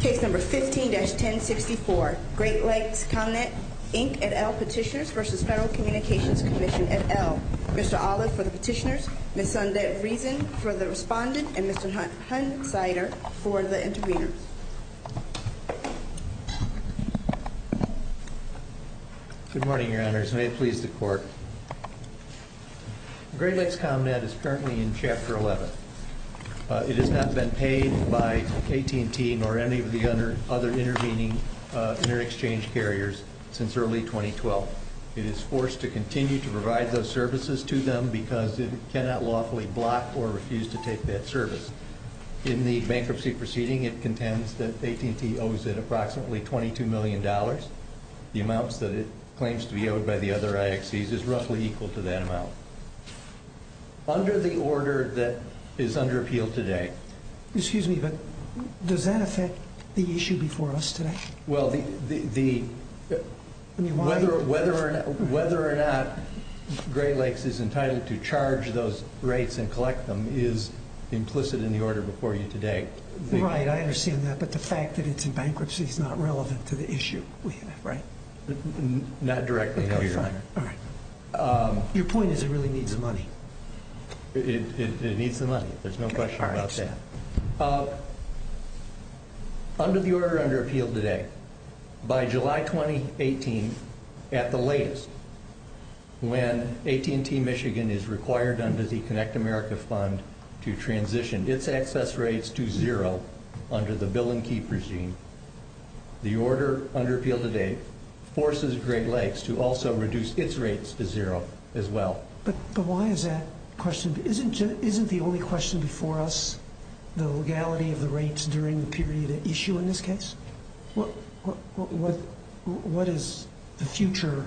Case No. 15-1064, Great Lakes Comnet, Inc. et al. Petitioners v. Federal Communications Commission et al. Mr. Olive for the petitioners, Ms. Sundet Reason for the respondent, and Mr. Hunt Sider for the intervener. Good morning, Your Honors, and may it please the Court. Great Lakes Comnet is currently in Chapter 11. It has not been paid by AT&T nor any of the other intervening inter-exchange carriers since early 2012. It is forced to continue to provide those services to them because it cannot lawfully block or refuse to take that service. In the bankruptcy proceeding, it contends that AT&T owes it approximately $22 million. The amount that it claims to be owed by the other IXCs is roughly equal to that amount. Under the order that is under appeal today... Excuse me, but does that affect the issue before us today? Well, whether or not Great Lakes is entitled to charge those rates and collect them is implicit in the order before you today. Right, I understand that, but the fact that it's in bankruptcy is not relevant to the issue we have, right? Not directly, no, Your Honor. Your point is it really needs the money. It needs the money, there's no question about that. Under the order under appeal today, by July 2018, at the latest, when AT&T Michigan is required under the Connect America Fund to transition its access rates to zero under the Bill and Keep regime, the order under appeal today forces Great Lakes to also reduce its rates to zero as well. But why is that a question? Isn't the only question before us the legality of the rates during the period at issue in this case? What does the future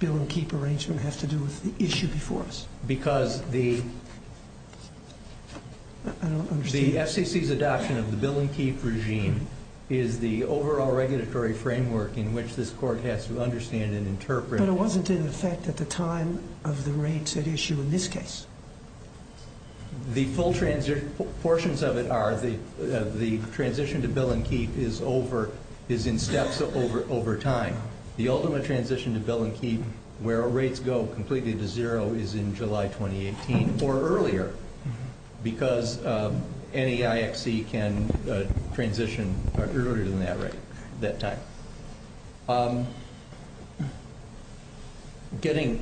Bill and Keep arrangement have to do with the issue before us? Because the FCC's adoption of the Bill and Keep regime is the overall regulatory framework in which this Court has to understand and interpret... the rates at issue in this case. The full portions of it are the transition to Bill and Keep is in steps over time. The ultimate transition to Bill and Keep where rates go completely to zero is in July 2018 or earlier, because any IXC can transition earlier than that time. Getting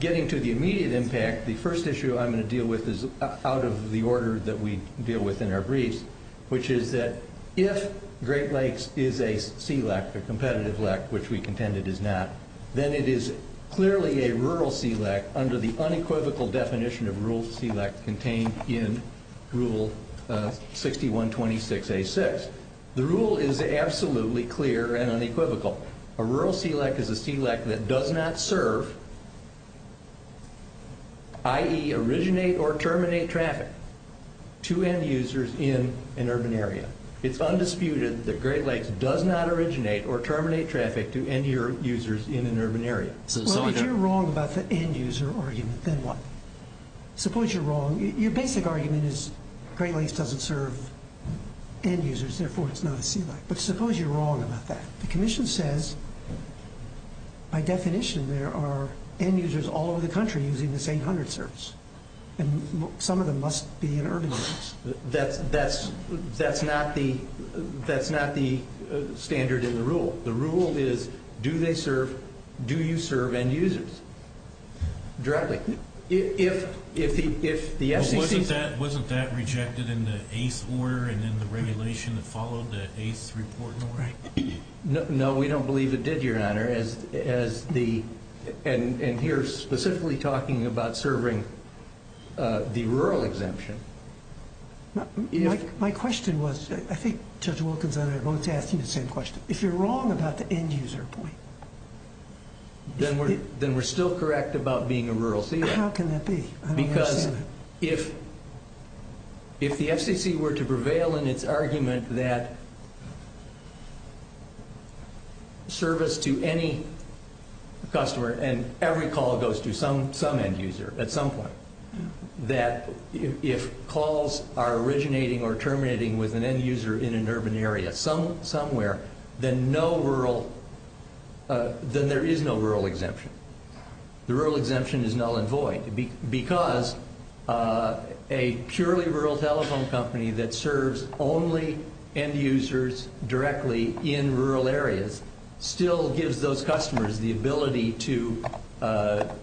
to the immediate impact, the first issue I'm going to deal with is out of the order that we deal with in our briefs, which is that if Great Lakes is a CLEC, a competitive LEC, which we contend it is not, then it is clearly a rural CLEC under the unequivocal definition of rural CLEC contained in Rule 6126A.6. The rule is absolutely clear and unequivocal. A rural CLEC is a CLEC that does not serve, i.e., originate or terminate traffic to end-users in an urban area. It's undisputed that Great Lakes does not originate or terminate traffic to end-users in an urban area. Well, if you're wrong about the end-user argument, then what? Suppose you're wrong. Your basic argument is Great Lakes doesn't serve end-users, therefore it's not a CLEC. But suppose you're wrong about that. The Commission says by definition there are end-users all over the country using this 800 service, and some of them must be in urban areas. That's not the standard in the rule. The rule is do they serve, do you serve end-users directly? Wasn't that rejected in the ACE order and in the regulation that followed the ACE report? No, we don't believe it did, Your Honor. And here specifically talking about serving the rural exemption. My question was, I think Judge Wilkins and I are both asking the same question. If you're wrong about the end-user point. Then we're still correct about being a rural CLEC. How can that be? Because if the FCC were to prevail in its argument that service to any customer, and every call goes to some end-user at some point, that if calls are originating or terminating with an end-user in an urban area somewhere, then there is no rural exemption. The rural exemption is null and void. Because a purely rural telephone company that serves only end-users directly in rural areas still gives those customers the ability to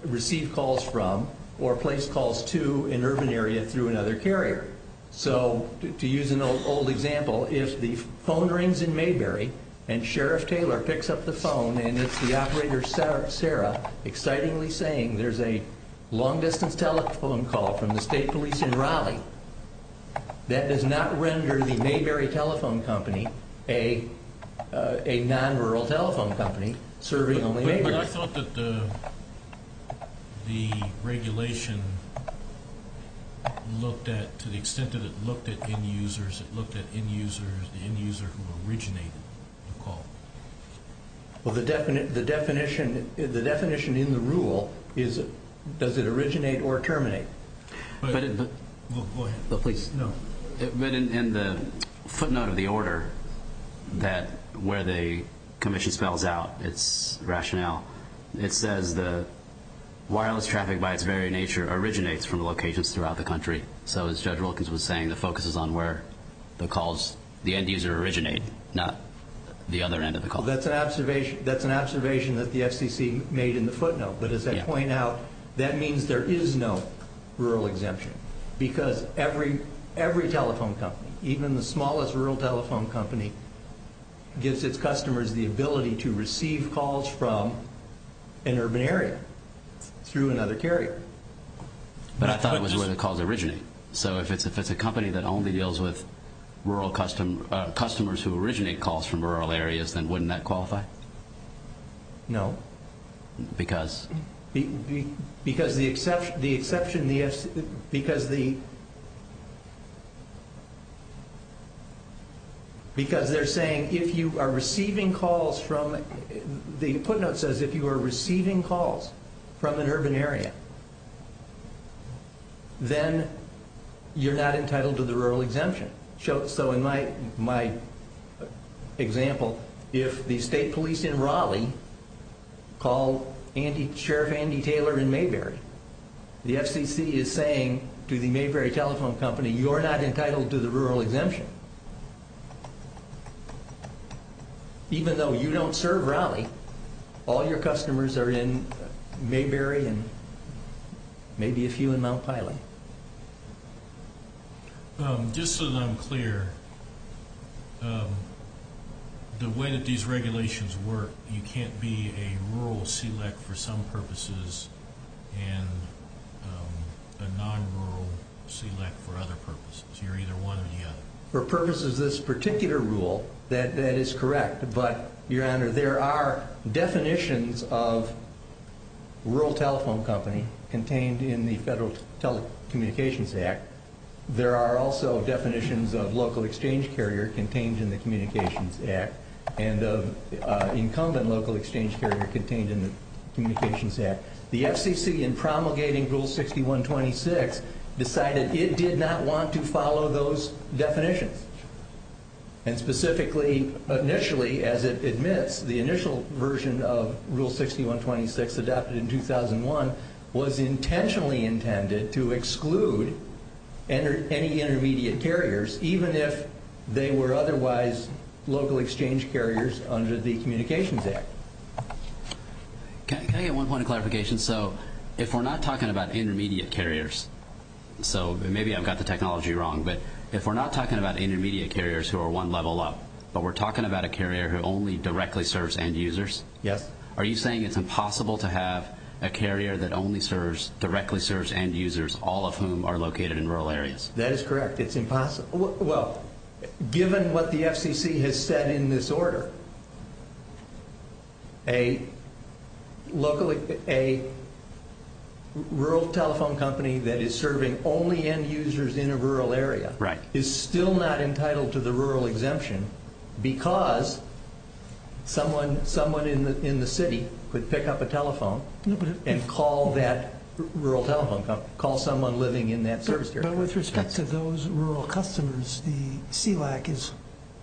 receive calls from or place calls to an urban area through another carrier. So to use an old example, if the phone rings in Mayberry and Sheriff Taylor picks up the phone and it's the operator Sarah excitingly saying there's a long-distance telephone call from the state police in Raleigh, that does not render the Mayberry Telephone Company a non-rural telephone company serving only Mayberry. I thought that the regulation looked at, to the extent that it looked at end-users, it looked at the end-user who originated the call. Well, the definition in the rule is does it originate or terminate? Go ahead. But in the footnote of the order where the commission spells out its rationale, it says the wireless traffic by its very nature originates from locations throughout the country. So as Judge Wilkins was saying, the focus is on where the calls, the end-user originate, not the other end of the call. That's an observation that the FCC made in the footnote, but as I point out, that means there is no rural exemption because every telephone company, even the smallest rural telephone company, gives its customers the ability to receive calls from an urban area through another carrier. But I thought it was where the calls originate. So if it's a company that only deals with customers who originate calls from rural areas, then wouldn't that qualify? No. Because? Because they're saying if you are receiving calls from an urban area, then you're not entitled to the rural exemption. So in my example, if the state police in Raleigh call Sheriff Andy Taylor in Mayberry, the FCC is saying to the Mayberry Telephone Company, you are not entitled to the rural exemption. Even though you don't serve Raleigh, all your customers are in Mayberry and maybe a few in Mount Pilate. Just so that I'm clear, the way that these regulations work, you can't be a rural SELEC for some purposes and a non-rural SELEC for other purposes. You're either one or the other. For purposes of this particular rule, that is correct. But, Your Honor, there are definitions of rural telephone company contained in the Federal Telecommunications Act. There are also definitions of local exchange carrier contained in the Communications Act and of incumbent local exchange carrier contained in the Communications Act. The FCC, in promulgating Rule 6126, decided it did not want to follow those definitions. And specifically, initially, as it admits, the initial version of Rule 6126 adopted in 2001 was intentionally intended to exclude any intermediate carriers even if they were otherwise local exchange carriers under the Communications Act. Can I get one point of clarification? So if we're not talking about intermediate carriers, so maybe I've got the technology wrong, but if we're not talking about intermediate carriers who are one level up, but we're talking about a carrier who only directly serves end users? Yes. Are you saying it's impossible to have a carrier that only directly serves end users, all of whom are located in rural areas? That is correct. It's impossible. Well, given what the FCC has said in this order, a rural telephone company that is serving only end users in a rural area is still not entitled to the rural exemption because someone in the city could pick up a telephone and call that rural telephone company, call someone living in that service area. But with respect to those rural customers, the SELAC is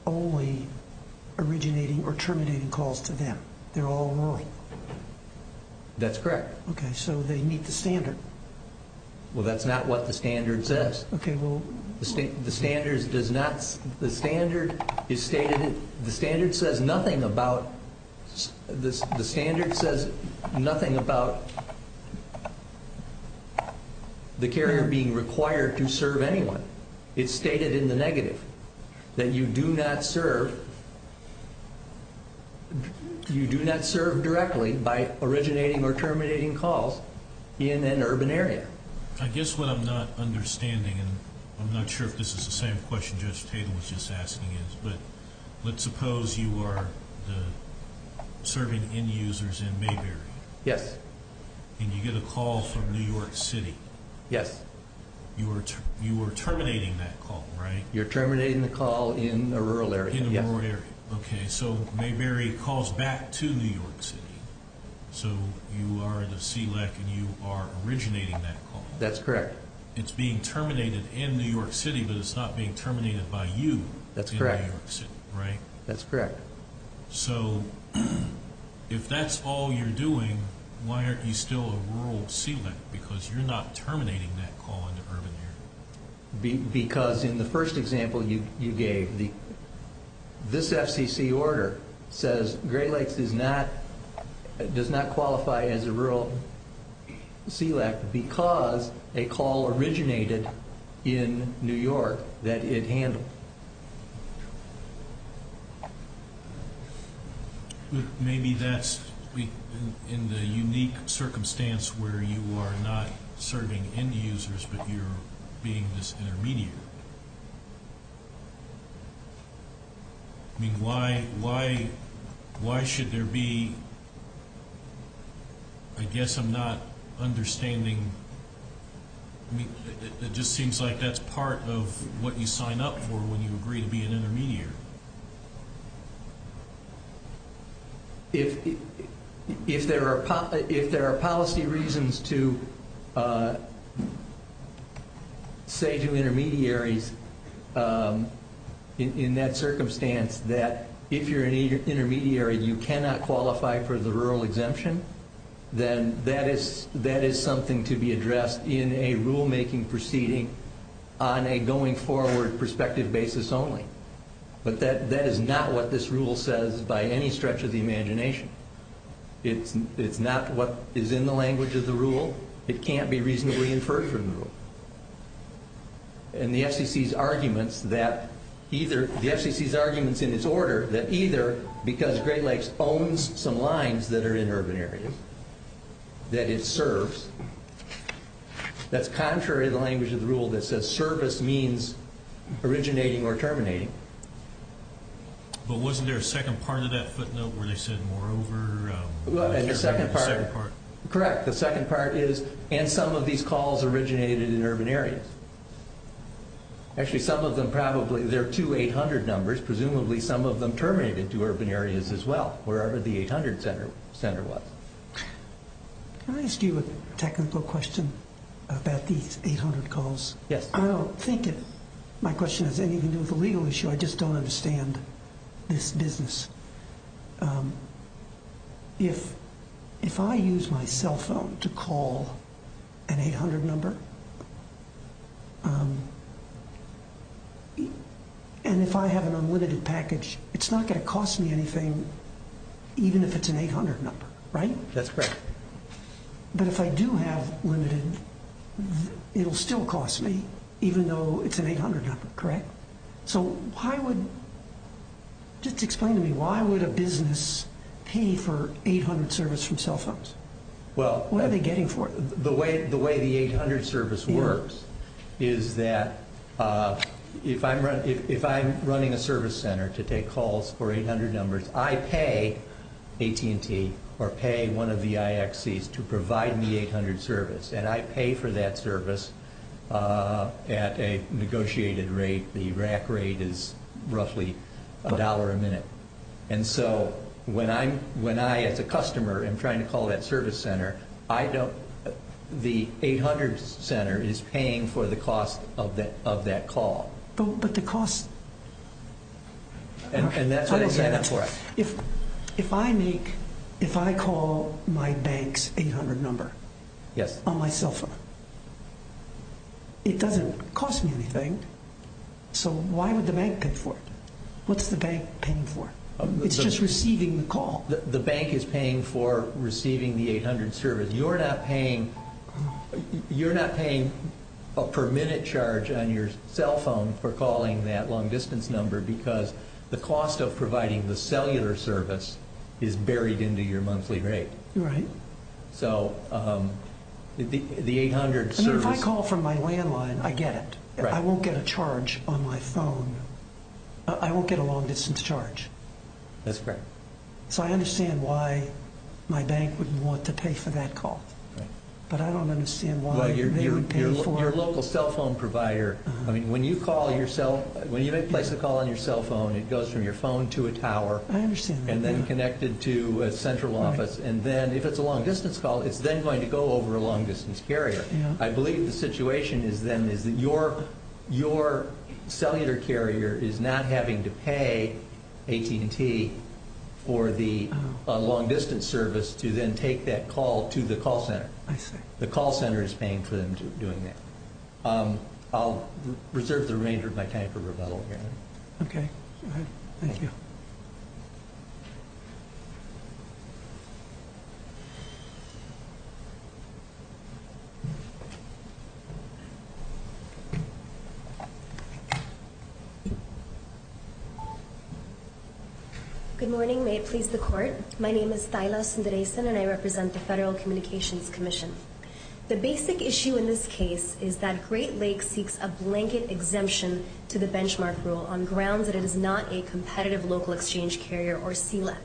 only originating or terminating calls to them. They're all rural. That's correct. Okay, so they meet the standard. Well, that's not what the standard says. Okay, well. The standard says nothing about the carrier being required to serve anyone. It's stated in the negative that you do not serve directly by originating or terminating calls in an urban area. I guess what I'm not understanding, and I'm not sure if this is the same question Judge Tatum was just asking, but let's suppose you are serving end users in Mayberry. Yes. And you get a call from New York City. Yes. You are terminating that call, right? You're terminating the call in a rural area. In a rural area. Yes. Okay, so Mayberry calls back to New York City. So you are the SELAC and you are originating that call. That's correct. It's being terminated in New York City, but it's not being terminated by you in New York City, right? That's correct. So if that's all you're doing, why aren't you still a rural SELAC? Because you're not terminating that call in an urban area. Because in the first example you gave, this FCC order says Gray Lakes does not qualify as a rural SELAC because a call originated in New York that it handled. Okay. Maybe that's in the unique circumstance where you are not serving end users, but you're being this intermediate. I mean, why should there be, I guess I'm not understanding. I mean, it just seems like that's part of what you sign up for when you agree to be an intermediary. If there are policy reasons to say to intermediaries in that circumstance that if you're an intermediary, you cannot qualify for the rural exemption, then that is something to be addressed in a rulemaking proceeding on a going forward perspective basis only. But that is not what this rule says by any stretch of the imagination. It's not what is in the language of the rule. It can't be reasonably inferred from the rule. And the FCC's arguments in its order that either because Gray Lakes owns some lines that are in urban areas, that it serves, that's contrary to the language of the rule that says service means originating or terminating. But wasn't there a second part of that footnote where they said moreover? Correct. The second part is and some of these calls originated in urban areas. Actually, some of them probably. There are two 800 numbers. Presumably some of them terminated to urban areas as well, wherever the 800 center was. Can I ask you a technical question about these 800 calls? Yes. I don't think my question has anything to do with the legal issue. I just don't understand this business. If I use my cell phone to call an 800 number and if I have an unlimited package, it's not going to cost me anything even if it's an 800 number, right? That's correct. But if I do have limited, it will still cost me even though it's an 800 number, correct? Just explain to me why would a business pay for 800 service from cell phones? What are they getting for it? The way the 800 service works is that if I'm running a service center to take calls for 800 numbers, I pay AT&T or pay one of the IXCs to provide me 800 service, and I pay for that service at a negotiated rate. The RAC rate is roughly $1 a minute. And so when I, as a customer, am trying to call that service center, the 800 center is paying for the cost of that call. But the cost— And that's what it's paying for. If I make—if I call my bank's 800 number on my cell phone, it doesn't cost me anything. So why would the bank pay for it? What's the bank paying for? It's just receiving the call. The bank is paying for receiving the 800 service. You're not paying a per-minute charge on your cell phone for calling that long-distance number because the cost of providing the cellular service is buried into your monthly rate. Right. So the 800 service— I mean, if I call from my landline, I get it. I won't get a charge on my phone. I won't get a long-distance charge. That's correct. So I understand why my bank wouldn't want to pay for that call. But I don't understand why they would pay for it. On your local cell phone provider, I mean, when you make a place to call on your cell phone, it goes from your phone to a tower and then connected to a central office. And then if it's a long-distance call, it's then going to go over a long-distance carrier. I believe the situation then is that your cellular carrier is not having to pay AT&T for the long-distance service to then take that call to the call center. I see. The call center is paying for them doing that. I'll reserve the remainder of my time for rebuttal here. Okay. Thank you. Good morning. May it please the Court. My name is Thaila Sundaresan, and I represent the Federal Communications Commission. The basic issue in this case is that Great Lakes seeks a blanket exemption to the benchmark rule on grounds that it is not a competitive local exchange carrier or CLEC.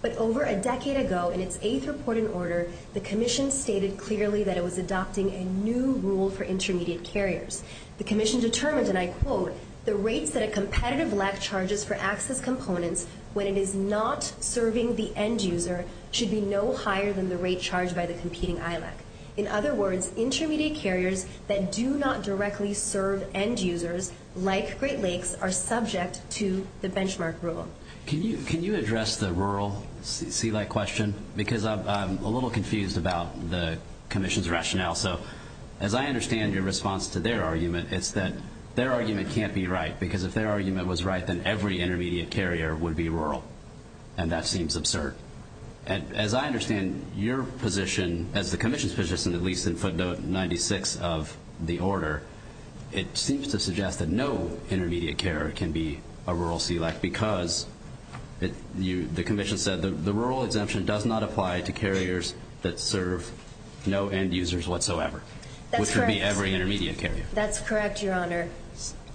But over a decade ago, in its eighth report in order, the Commission stated clearly that it was adopting a new rule for intermediate carriers. The Commission determined, and I quote, the rates that a competitive LEC charges for access components when it is not serving the end user should be no higher than the rate charged by the competing ILEC. In other words, intermediate carriers that do not directly serve end users, like Great Lakes, are subject to the benchmark rule. Can you address the rural CLEC question? As I understand your response to their argument, it's that their argument can't be right, because if their argument was right, then every intermediate carrier would be rural. And that seems absurd. As I understand your position, as the Commission's position, at least in footnote 96 of the order, it seems to suggest that no intermediate carrier can be a rural CLEC because the Commission said the rural exemption does not apply to carriers that serve no end users whatsoever, which would be every intermediate carrier. That's correct, Your Honor.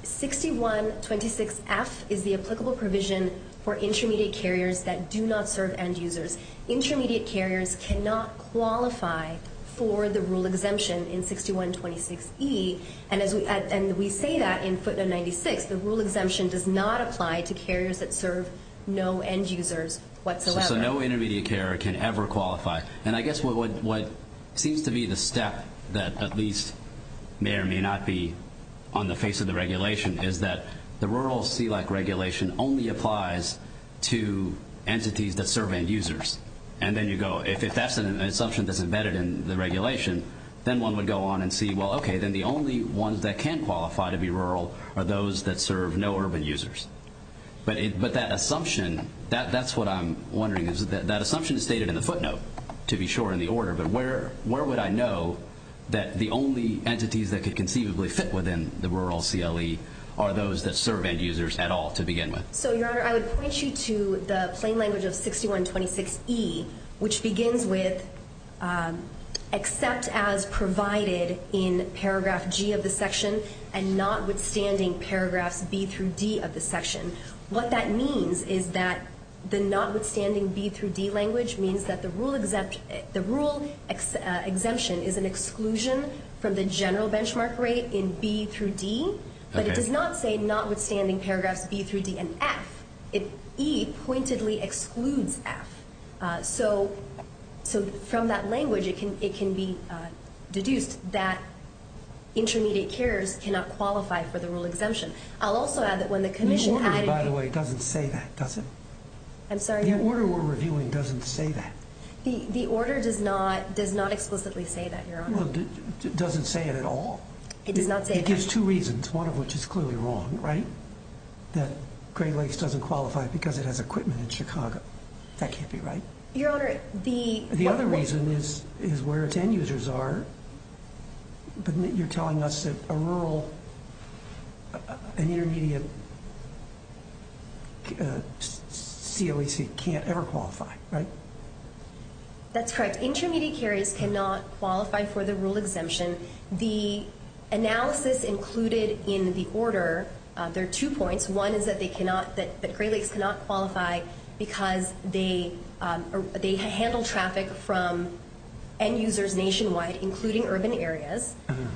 6126F is the applicable provision for intermediate carriers that do not serve end users. Intermediate carriers cannot qualify for the rural exemption in 6126E. And we say that in footnote 96. The rural exemption does not apply to carriers that serve no end users whatsoever. So no intermediate carrier can ever qualify. And I guess what seems to be the step that at least may or may not be on the face of the regulation is that the rural CLEC regulation only applies to entities that serve end users. And then you go, if that's an assumption that's embedded in the regulation, then one would go on and see, well, okay, then the only ones that can qualify to be rural are those that serve no urban users. But that assumption, that's what I'm wondering. That assumption is stated in the footnote, to be sure, in the order. But where would I know that the only entities that could conceivably fit within the rural CLE are those that serve end users at all to begin with? So, Your Honor, I would point you to the plain language of 6126E, which begins with except as provided in paragraph G of the section and notwithstanding paragraphs B through D of the section. What that means is that the notwithstanding B through D language means that the rural exemption is an exclusion from the general benchmark rate in B through D, but it does not say notwithstanding paragraphs B through D and F. E pointedly excludes F. So, from that language, it can be deduced that intermediate carers cannot qualify for the rural exemption. I'll also add that when the commission added... The order, by the way, doesn't say that, does it? I'm sorry? The order we're reviewing doesn't say that. The order does not explicitly say that, Your Honor. It doesn't say it at all. It does not say that. It gives two reasons, one of which is clearly wrong, right? That Great Lakes doesn't qualify because it has equipment in Chicago. That can't be right. Your Honor, the... The other reason is where its end users are. But you're telling us that a rural, an intermediate COAC can't ever qualify, right? That's correct. Intermediate carers cannot qualify for the rural exemption. The analysis included in the order, there are two points. One is that they cannot, that Great Lakes cannot qualify because they handle traffic from end users nationwide, including urban areas.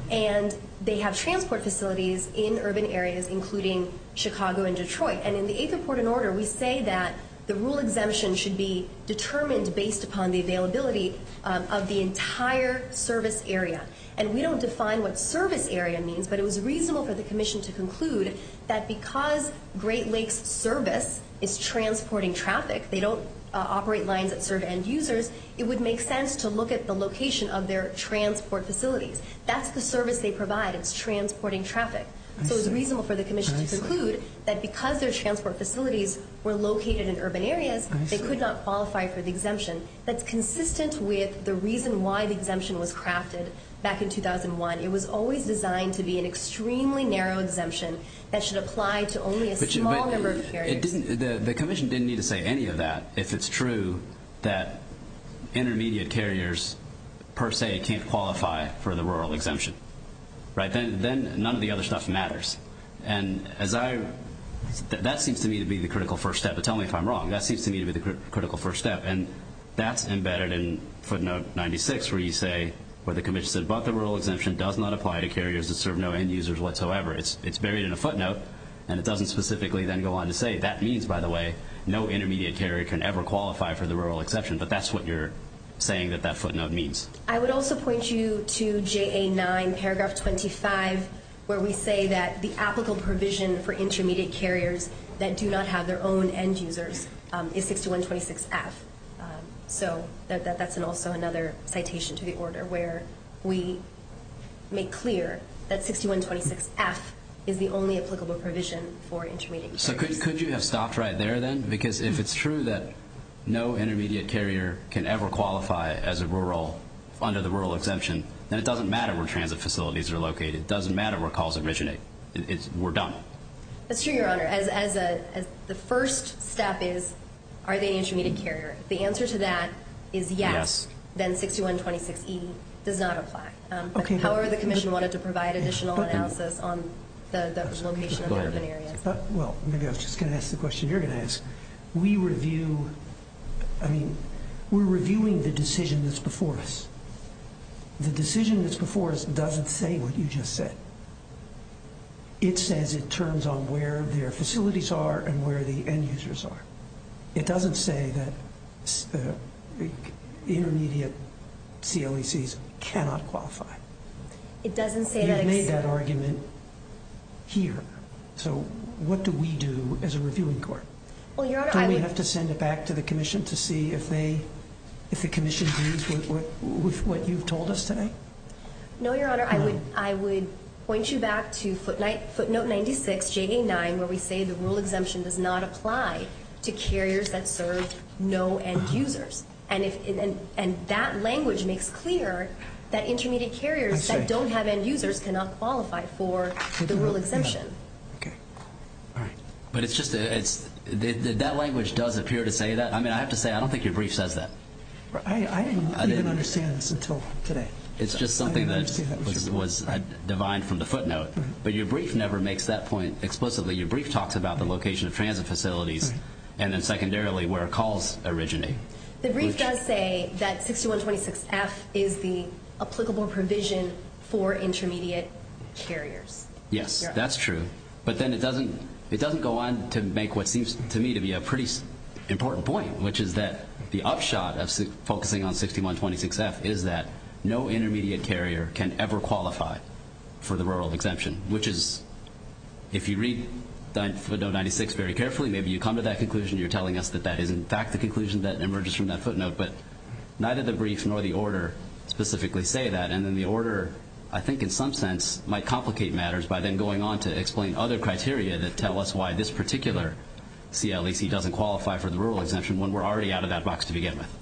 And they have transport facilities in urban areas, including Chicago and Detroit. And in the eighth report and order, we say that the rural exemption should be determined based upon the availability of the entire service area. And we don't define what service area means, but it was reasonable for the commission to conclude that because Great Lakes service is transporting traffic, they don't operate lines that serve end users, it would make sense to look at the location of their transport facilities. That's the service they provide. It's transporting traffic. So it was reasonable for the commission to conclude that because their transport facilities were located in urban areas, they could not qualify for the exemption. That's consistent with the reason why the exemption was crafted back in 2001. It was always designed to be an extremely narrow exemption that should apply to only a small number of carriers. The commission didn't need to say any of that if it's true that intermediate carriers per se can't qualify for the rural exemption, right? Then none of the other stuff matters. And as I, that seems to me to be the critical first step. But tell me if I'm wrong. That seems to me to be the critical first step. And that's embedded in footnote 96 where you say where the commission said but the rural exemption does not apply to carriers that serve no end users whatsoever. It's buried in a footnote, and it doesn't specifically then go on to say that means, by the way, no intermediate carrier can ever qualify for the rural exemption. But that's what you're saying that that footnote means. I would also point you to JA9 paragraph 25 where we say that the applicable provision for intermediate carriers that do not have their own end users is 6126F. So that's also another citation to the order where we make clear that 6126F is the only applicable provision for intermediate carriers. So could you have stopped right there then? Because if it's true that no intermediate carrier can ever qualify under the rural exemption, then it doesn't matter where transit facilities are located. It doesn't matter where calls originate. We're done. That's true, Your Honor. The first step is are they an intermediate carrier? If the answer to that is yes, then 6126E does not apply. However, the commission wanted to provide additional analysis on the location of the urban areas. Well, maybe I was just going to ask the question you're going to ask. We review, I mean, we're reviewing the decision that's before us. The decision that's before us doesn't say what you just said. It says it turns on where their facilities are and where the end users are. It doesn't say that intermediate CLECs cannot qualify. We've made that argument here. So what do we do as a reviewing court? Don't we have to send it back to the commission to see if the commission agrees with what you've told us today? No, Your Honor. I would point you back to footnote 96, JA9, where we say the rural exemption does not apply to carriers that serve no end users. And that language makes clear that intermediate carriers that don't have end users cannot qualify for the rural exemption. Okay. All right. But it's just that language does appear to say that. I mean, I have to say I don't think your brief says that. I didn't even understand this until today. It's just something that was divined from the footnote. But your brief never makes that point explicitly. Your brief talks about the location of transit facilities and then secondarily where calls originate. The brief does say that 6126F is the applicable provision for intermediate carriers. Yes, that's true. But then it doesn't go on to make what seems to me to be a pretty important point, which is that the upshot of focusing on 6126F is that no intermediate carrier can ever qualify for the rural exemption, which is if you read footnote 96 very carefully, maybe you come to that conclusion. You're telling us that that is in fact the conclusion that emerges from that footnote. But neither the brief nor the order specifically say that. And then the order, I think in some sense, might complicate matters by then going on to explain other criteria that tell us why this particular CLEC doesn't qualify for the rural exemption when we're already out of that box to begin with.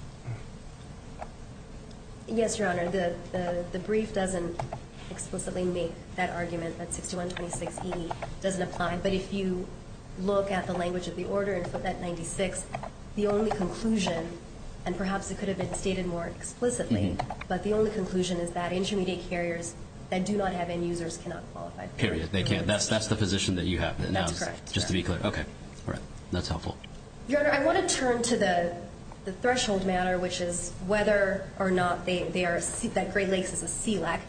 Yes, Your Honor. The brief doesn't explicitly make that argument that 6126E doesn't apply. But if you look at the language of the order in footnote 96, the only conclusion, and perhaps it could have been stated more explicitly, but the only conclusion is that intermediate carriers that do not have end users cannot qualify. Period. They can't. That's the position that you have now. That's correct. Just to be clear. Okay. All right. That's helpful. Your Honor, I want to turn to the threshold matter, which is whether or not Great Lakes is a CLEC.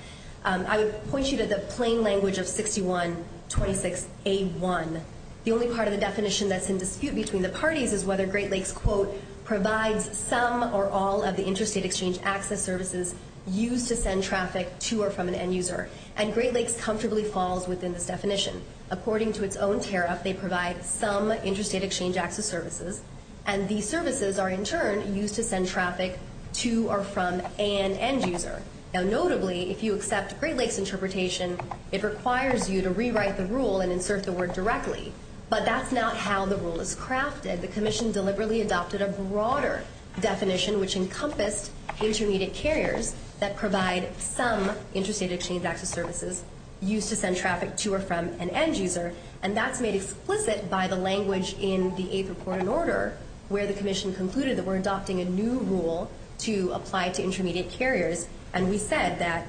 I would point you to the plain language of 6126A1. The only part of the definition that's in dispute between the parties is whether Great Lakes, quote, provides some or all of the interstate exchange access services used to send traffic to or from an end user. And Great Lakes comfortably falls within this definition. According to its own tariff, they provide some interstate exchange access services, and these services are in turn used to send traffic to or from an end user. Now, notably, if you accept Great Lakes' interpretation, it requires you to rewrite the rule and insert the word directly, but that's not how the rule is crafted. The commission deliberately adopted a broader definition, which encompassed intermediate carriers that provide some interstate exchange access services used to send traffic to or from an end user, and that's made explicit by the language in the Eighth Report and Order, where the commission concluded that we're adopting a new rule to apply to intermediate carriers, and we said that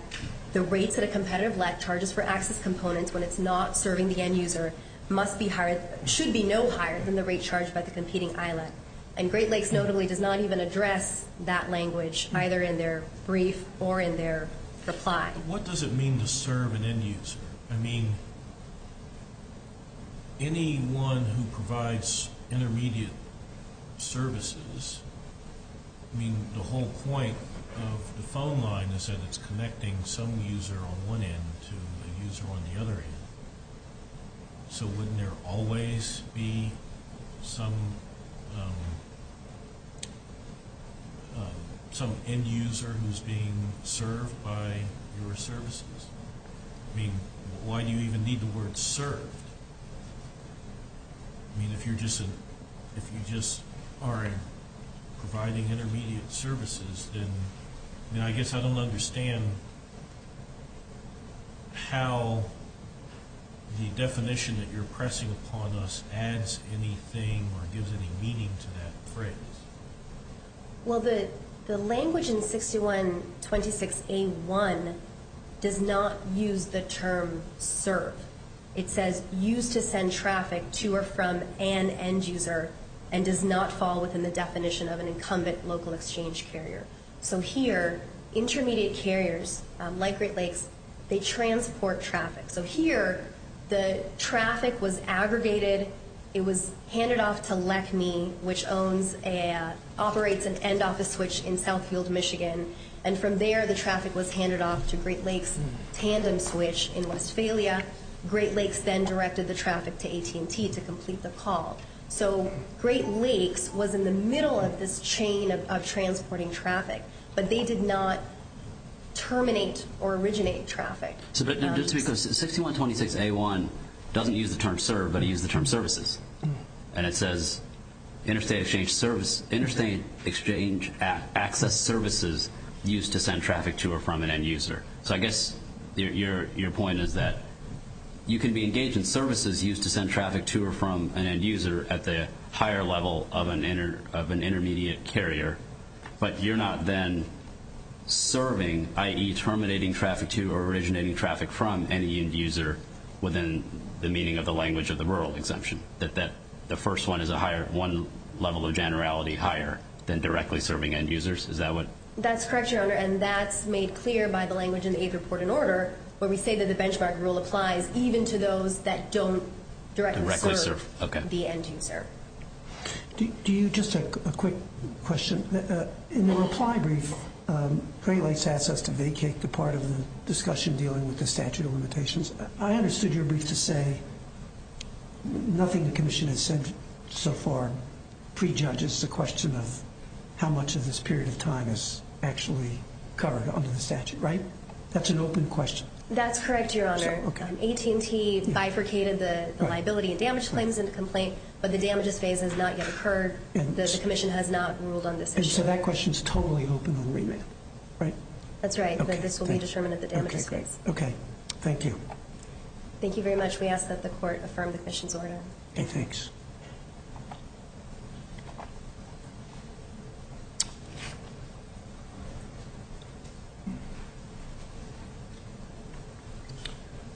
the rates that a competitive let charges for access components when it's not serving the end user must be higher, should be no higher, than the rate charged by the competing ILET. And Great Lakes notably does not even address that language, either in their brief or in their reply. What does it mean to serve an end user? I mean, anyone who provides intermediate services, I mean, the whole point of the phone line is that it's connecting some user on one end to the user on the other end. So wouldn't there always be some end user who's being served by your services? I mean, why do you even need the word served? I mean, if you just are providing intermediate services, then I guess I don't understand how the definition that you're pressing upon us adds anything or gives any meaning to that phrase. Well, the language in 6126A1 does not use the term serve. It says used to send traffic to or from an end user and does not fall within the definition of an incumbent local exchange carrier. So here, intermediate carriers like Great Lakes, they transport traffic. So here, the traffic was aggregated. It was handed off to LECME, which operates an end office switch in Southfield, Michigan. And from there, the traffic was handed off to Great Lakes' tandem switch in Westphalia. Great Lakes then directed the traffic to AT&T to complete the call. So Great Lakes was in the middle of this chain of transporting traffic, but they did not terminate or originate traffic. But that's because 6126A1 doesn't use the term serve, but it uses the term services. And it says interstate exchange access services used to send traffic to or from an end user. So I guess your point is that you can be engaged in services used to send traffic to or from an end user at the higher level of an intermediate carrier, but you're not then serving, i.e., terminating traffic to or originating traffic from any end user within the meaning of the language of the rural exemption, that the first one is one level of generality higher than directly serving end users. Is that what? That's correct, Your Honor, and that's made clear by the language in the eighth report in order where we say that the benchmark rule applies even to those that don't directly serve the end user. Do you just have a quick question? In the reply brief, Great Lakes asked us to vacate the part of the discussion dealing with the statute of limitations. I understood your brief to say nothing the commission has said so far prejudges the question of how much of this period of time is actually covered under the statute, right? That's an open question. That's correct, Your Honor. AT&T bifurcated the liability and damage claims in the complaint, but the damages phase has not yet occurred. The commission has not ruled on this issue. So that question is totally open on remand, right? That's right, but this will be determined at the damages phase. Okay, thank you. Thank you very much. We ask that the court affirm the commission's order. Okay, thanks. Good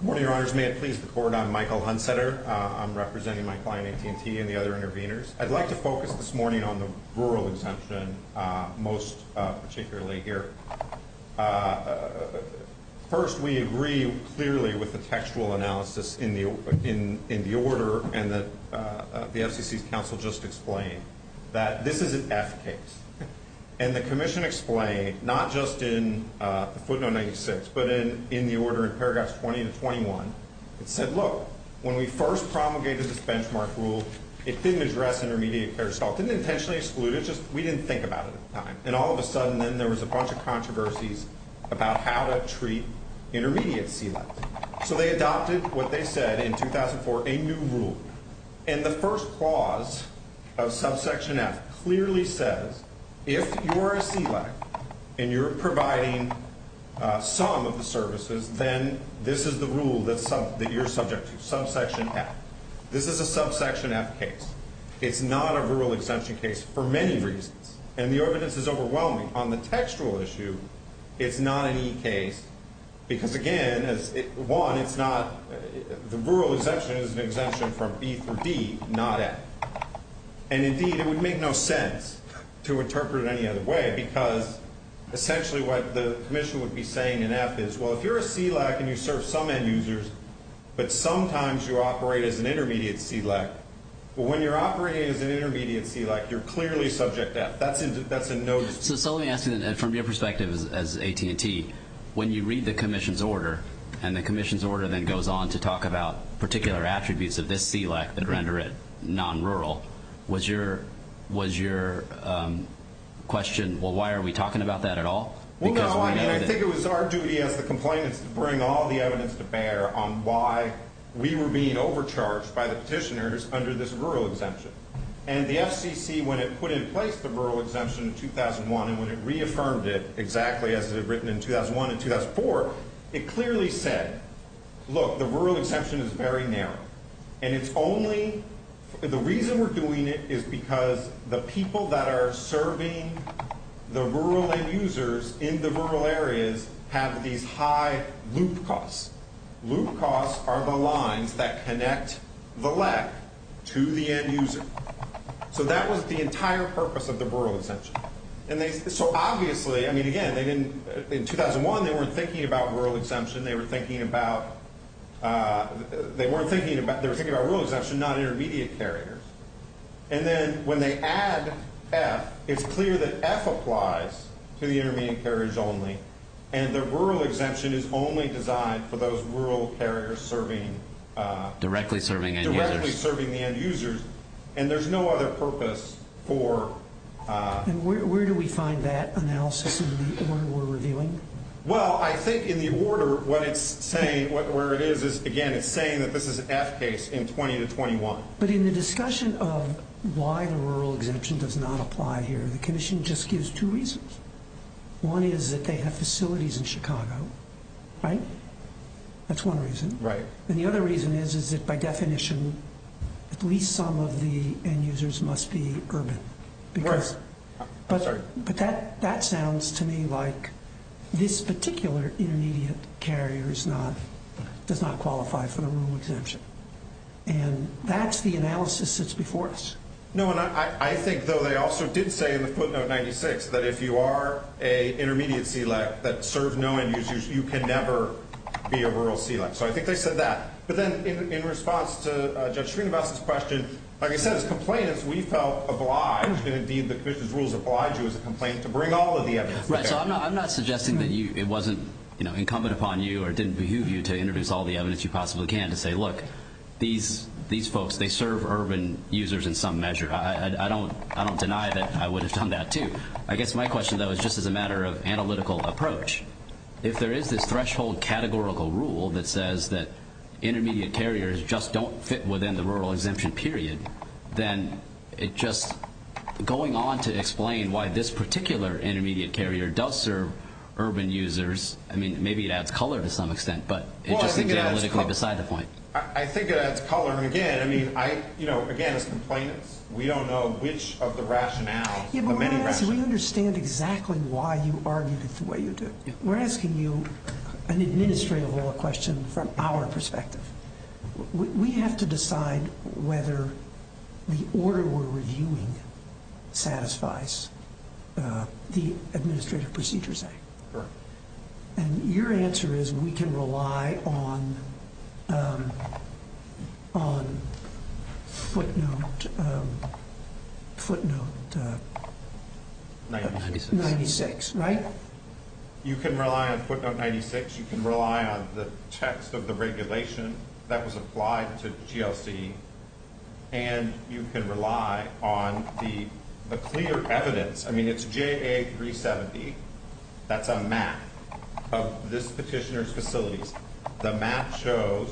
morning, Your Honors. May it please the court, I'm Michael Hunseter. I'm representing my client, AT&T, and the other interveners. I'd like to focus this morning on the rural exemption, most particularly here. First, we agree clearly with the textual analysis in the order and the FCC's counsel just explained that this is an F case. And the commission explained, not just in footnote 96, but in the order in paragraphs 20 to 21, it said, look, when we first promulgated this benchmark rule, it didn't address intermediate care. So it didn't intentionally exclude it, just we didn't think about it at the time. And all of a sudden then there was a bunch of controversies about how to treat intermediate C-levels. So they adopted what they said in 2004, a new rule. And the first clause of subsection F clearly says if you're a C-level and you're providing some of the services, then this is the rule that you're subject to, subsection F. This is a subsection F case. It's not a rural exemption case for many reasons. And the evidence is overwhelming. On the textual issue, it's not an E case because, again, one, it's not the rural exemption is an exemption from B through D, not F. And, indeed, it would make no sense to interpret it any other way because essentially what the commission would be saying in F is, well, if you're a C-level and you serve some end users, but sometimes you operate as an intermediate C-level, when you're operating as an intermediate C-level, you're clearly subject to F. So let me ask you, from your perspective as AT&T, when you read the commission's order and the commission's order then goes on to talk about particular attributes of this CLEC that render it non-rural, was your question, well, why are we talking about that at all? Well, no, I think it was our duty as the complainants to bring all the evidence to bear on why we were being overcharged by the petitioners under this rural exemption. And the FCC, when it put in place the rural exemption in 2001 and when it reaffirmed it exactly as it had written in 2001 and 2004, it clearly said, look, the rural exemption is very narrow. And it's only the reason we're doing it is because the people that are serving the rural end users in the rural areas have these high loop costs. Loop costs are the lines that connect the LEC to the end user. So that was the entire purpose of the rural exemption. And so obviously, I mean, again, in 2001, they weren't thinking about rural exemption. They were thinking about rural exemption, not intermediate carriers. And then when they add F, it's clear that F applies to the intermediate carriers only, and the rural exemption is only designed for those rural carriers serving the end users. And there's no other purpose for. And where do we find that analysis in the order we're reviewing? Well, I think in the order where it is, again, it's saying that this is F case in 20 to 21. But in the discussion of why the rural exemption does not apply here, the commission just gives two reasons. One is that they have facilities in Chicago, right? That's one reason. Right. And the other reason is that by definition, at least some of the end users must be urban. Right. I'm sorry. But that sounds to me like this particular intermediate carrier does not qualify for the rural exemption. And that's the analysis that's before us. No. And I think, though, they also did say in the footnote 96 that if you are an intermediate CLEC that serves no end users, you can never be a rural CLEC. So I think they said that. But then in response to Judge Srinivasan's question, like I said, as complainants, we felt obliged, and indeed the commission's rules obliged you as a complainant to bring all of the evidence. Right. So I'm not suggesting that it wasn't incumbent upon you or didn't behoove you to introduce all the evidence you possibly can to say, look, these folks, they serve urban users in some measure. I don't deny that I would have done that, too. I guess my question, though, is just as a matter of analytical approach. If there is this threshold categorical rule that says that intermediate carriers just don't fit within the rural exemption period, then it just going on to explain why this particular intermediate carrier does serve urban users, I mean, maybe it adds color to some extent, but it's just analytically beside the point. I think it adds color. Again, as complainants, we don't know which of the rationales of many rationales. We understand exactly why you argued it the way you did. We're asking you an administrative law question from our perspective. We have to decide whether the order we're reviewing satisfies the Administrative Procedures Act. Correct. And your answer is we can rely on footnote 96, right? You can rely on footnote 96. You can rely on the text of the regulation that was applied to GLC, and you can rely on the clear evidence. I mean, it's JA 370. That's a map of this petitioner's facilities. The map shows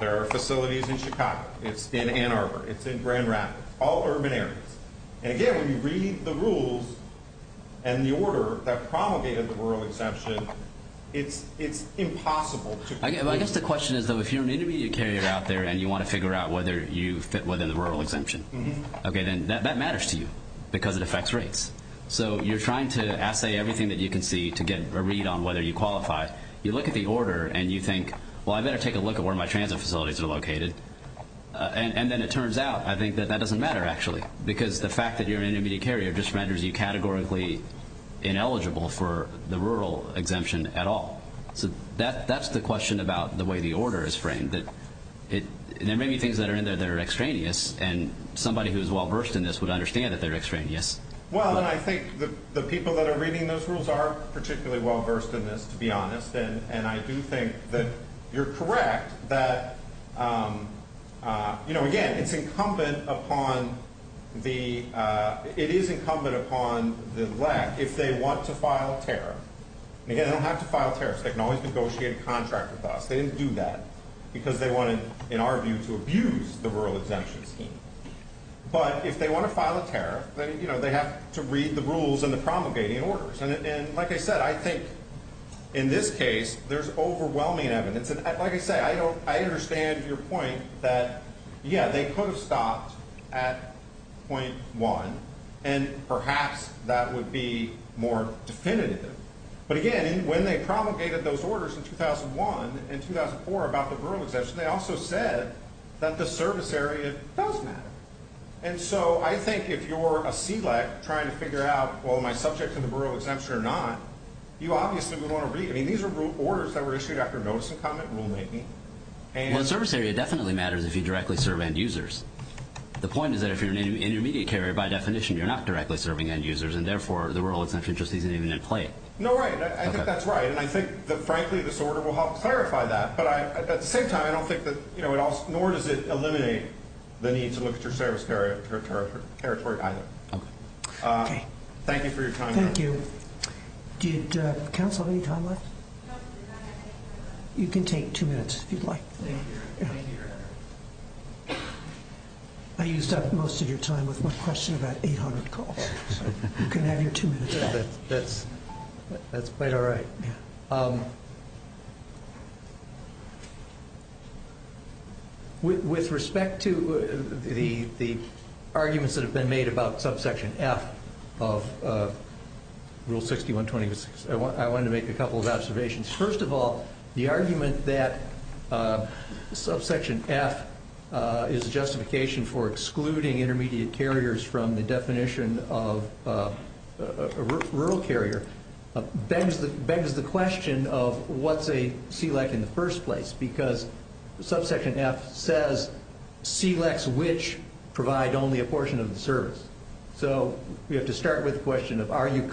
there are facilities in Chicago. It's in Ann Arbor. It's in Grand Rapids, all urban areas. And again, when you read the rules and the order that promulgated the rural exemption, it's impossible. I guess the question is, though, if you're an intermediate carrier out there and you want to figure out whether you fit within the rural exemption, okay, then that matters to you because it affects rates. So you're trying to assay everything that you can see to get a read on whether you qualify. You look at the order and you think, well, I better take a look at where my transit facilities are located. And then it turns out, I think, that that doesn't matter, actually, because the fact that you're an intermediate carrier just renders you categorically ineligible for the rural exemption at all. So that's the question about the way the order is framed, that there may be things that are in there that are extraneous, and somebody who is well-versed in this would understand that they're extraneous. Well, and I think the people that are reading those rules are particularly well-versed in this, to be honest, and I do think that you're correct that, you know, again, it's incumbent upon the LEC if they want to file a tariff. And again, they don't have to file tariffs. They can always negotiate a contract with us. They didn't do that because they wanted, in our view, to abuse the rural exemption scheme. But if they want to file a tariff, you know, they have to read the rules and the promulgating orders. And like I said, I think in this case there's overwhelming evidence. And like I say, I understand your point that, yeah, they could have stopped at .1, and perhaps that would be more definitive. But again, when they promulgated those orders in 2001 and 2004 about the rural exemption, they also said that the service area does matter. And so I think if you're a CLEC trying to figure out, well, am I subject to the rural exemption or not, you obviously would want to read. I mean, these are orders that were issued after notice and comment rulemaking. Well, the service area definitely matters if you directly serve end users. The point is that if you're an intermediate carrier, by definition, you're not directly serving end users, and therefore the rural exemption just isn't even in play. No, right. I think that's right. And I think, frankly, this order will help clarify that. But at the same time, I don't think that nor does it eliminate the need to look at your service territory either. Okay. Thank you for your time. Thank you. Council, any time left? You can take two minutes if you'd like. I used up most of your time with my question about 800 calls. You can have your two minutes back. That's quite all right. With respect to the arguments that have been made about subsection F of Rule 6126, I wanted to make a couple of observations. First of all, the argument that subsection F is a justification for excluding intermediate carriers from the definition of a rural carrier begs the question of what's a SELEC in the first place, because subsection F says SELECs which provide only a portion of the service. So we have to start with the question of are you a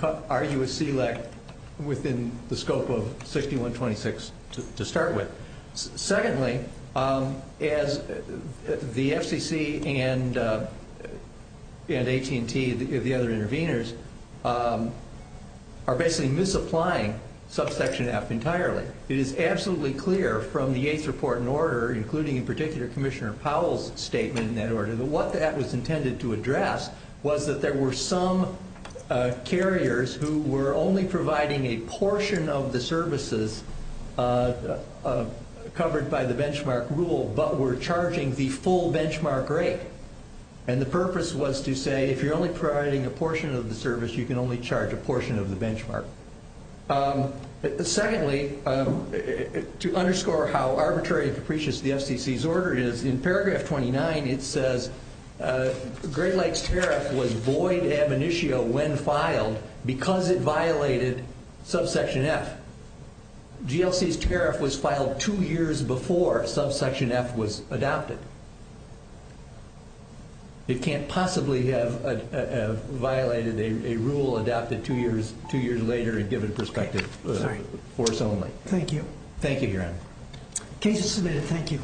SELEC within the scope of 6126 to start with. Secondly, as the FCC and AT&T, the other interveners, are basically misapplying subsection F entirely. It is absolutely clear from the eighth report in order, including in particular Commissioner Powell's statement in that order, that what that was intended to address was that there were some carriers who were only providing a portion of the services covered by the benchmark rule, but were charging the full benchmark rate. And the purpose was to say if you're only providing a portion of the service, you can only charge a portion of the benchmark. Secondly, to underscore how arbitrary and capricious the FCC's order is, in paragraph 29 it says Great Lakes Tariff was void ab initio when filed because it violated subsection F. GLC's tariff was filed two years before subsection F was adopted. It can't possibly have violated a rule adopted two years later and given perspective force only. Thank you. Thank you, Your Honor. Case is submitted. Thank you.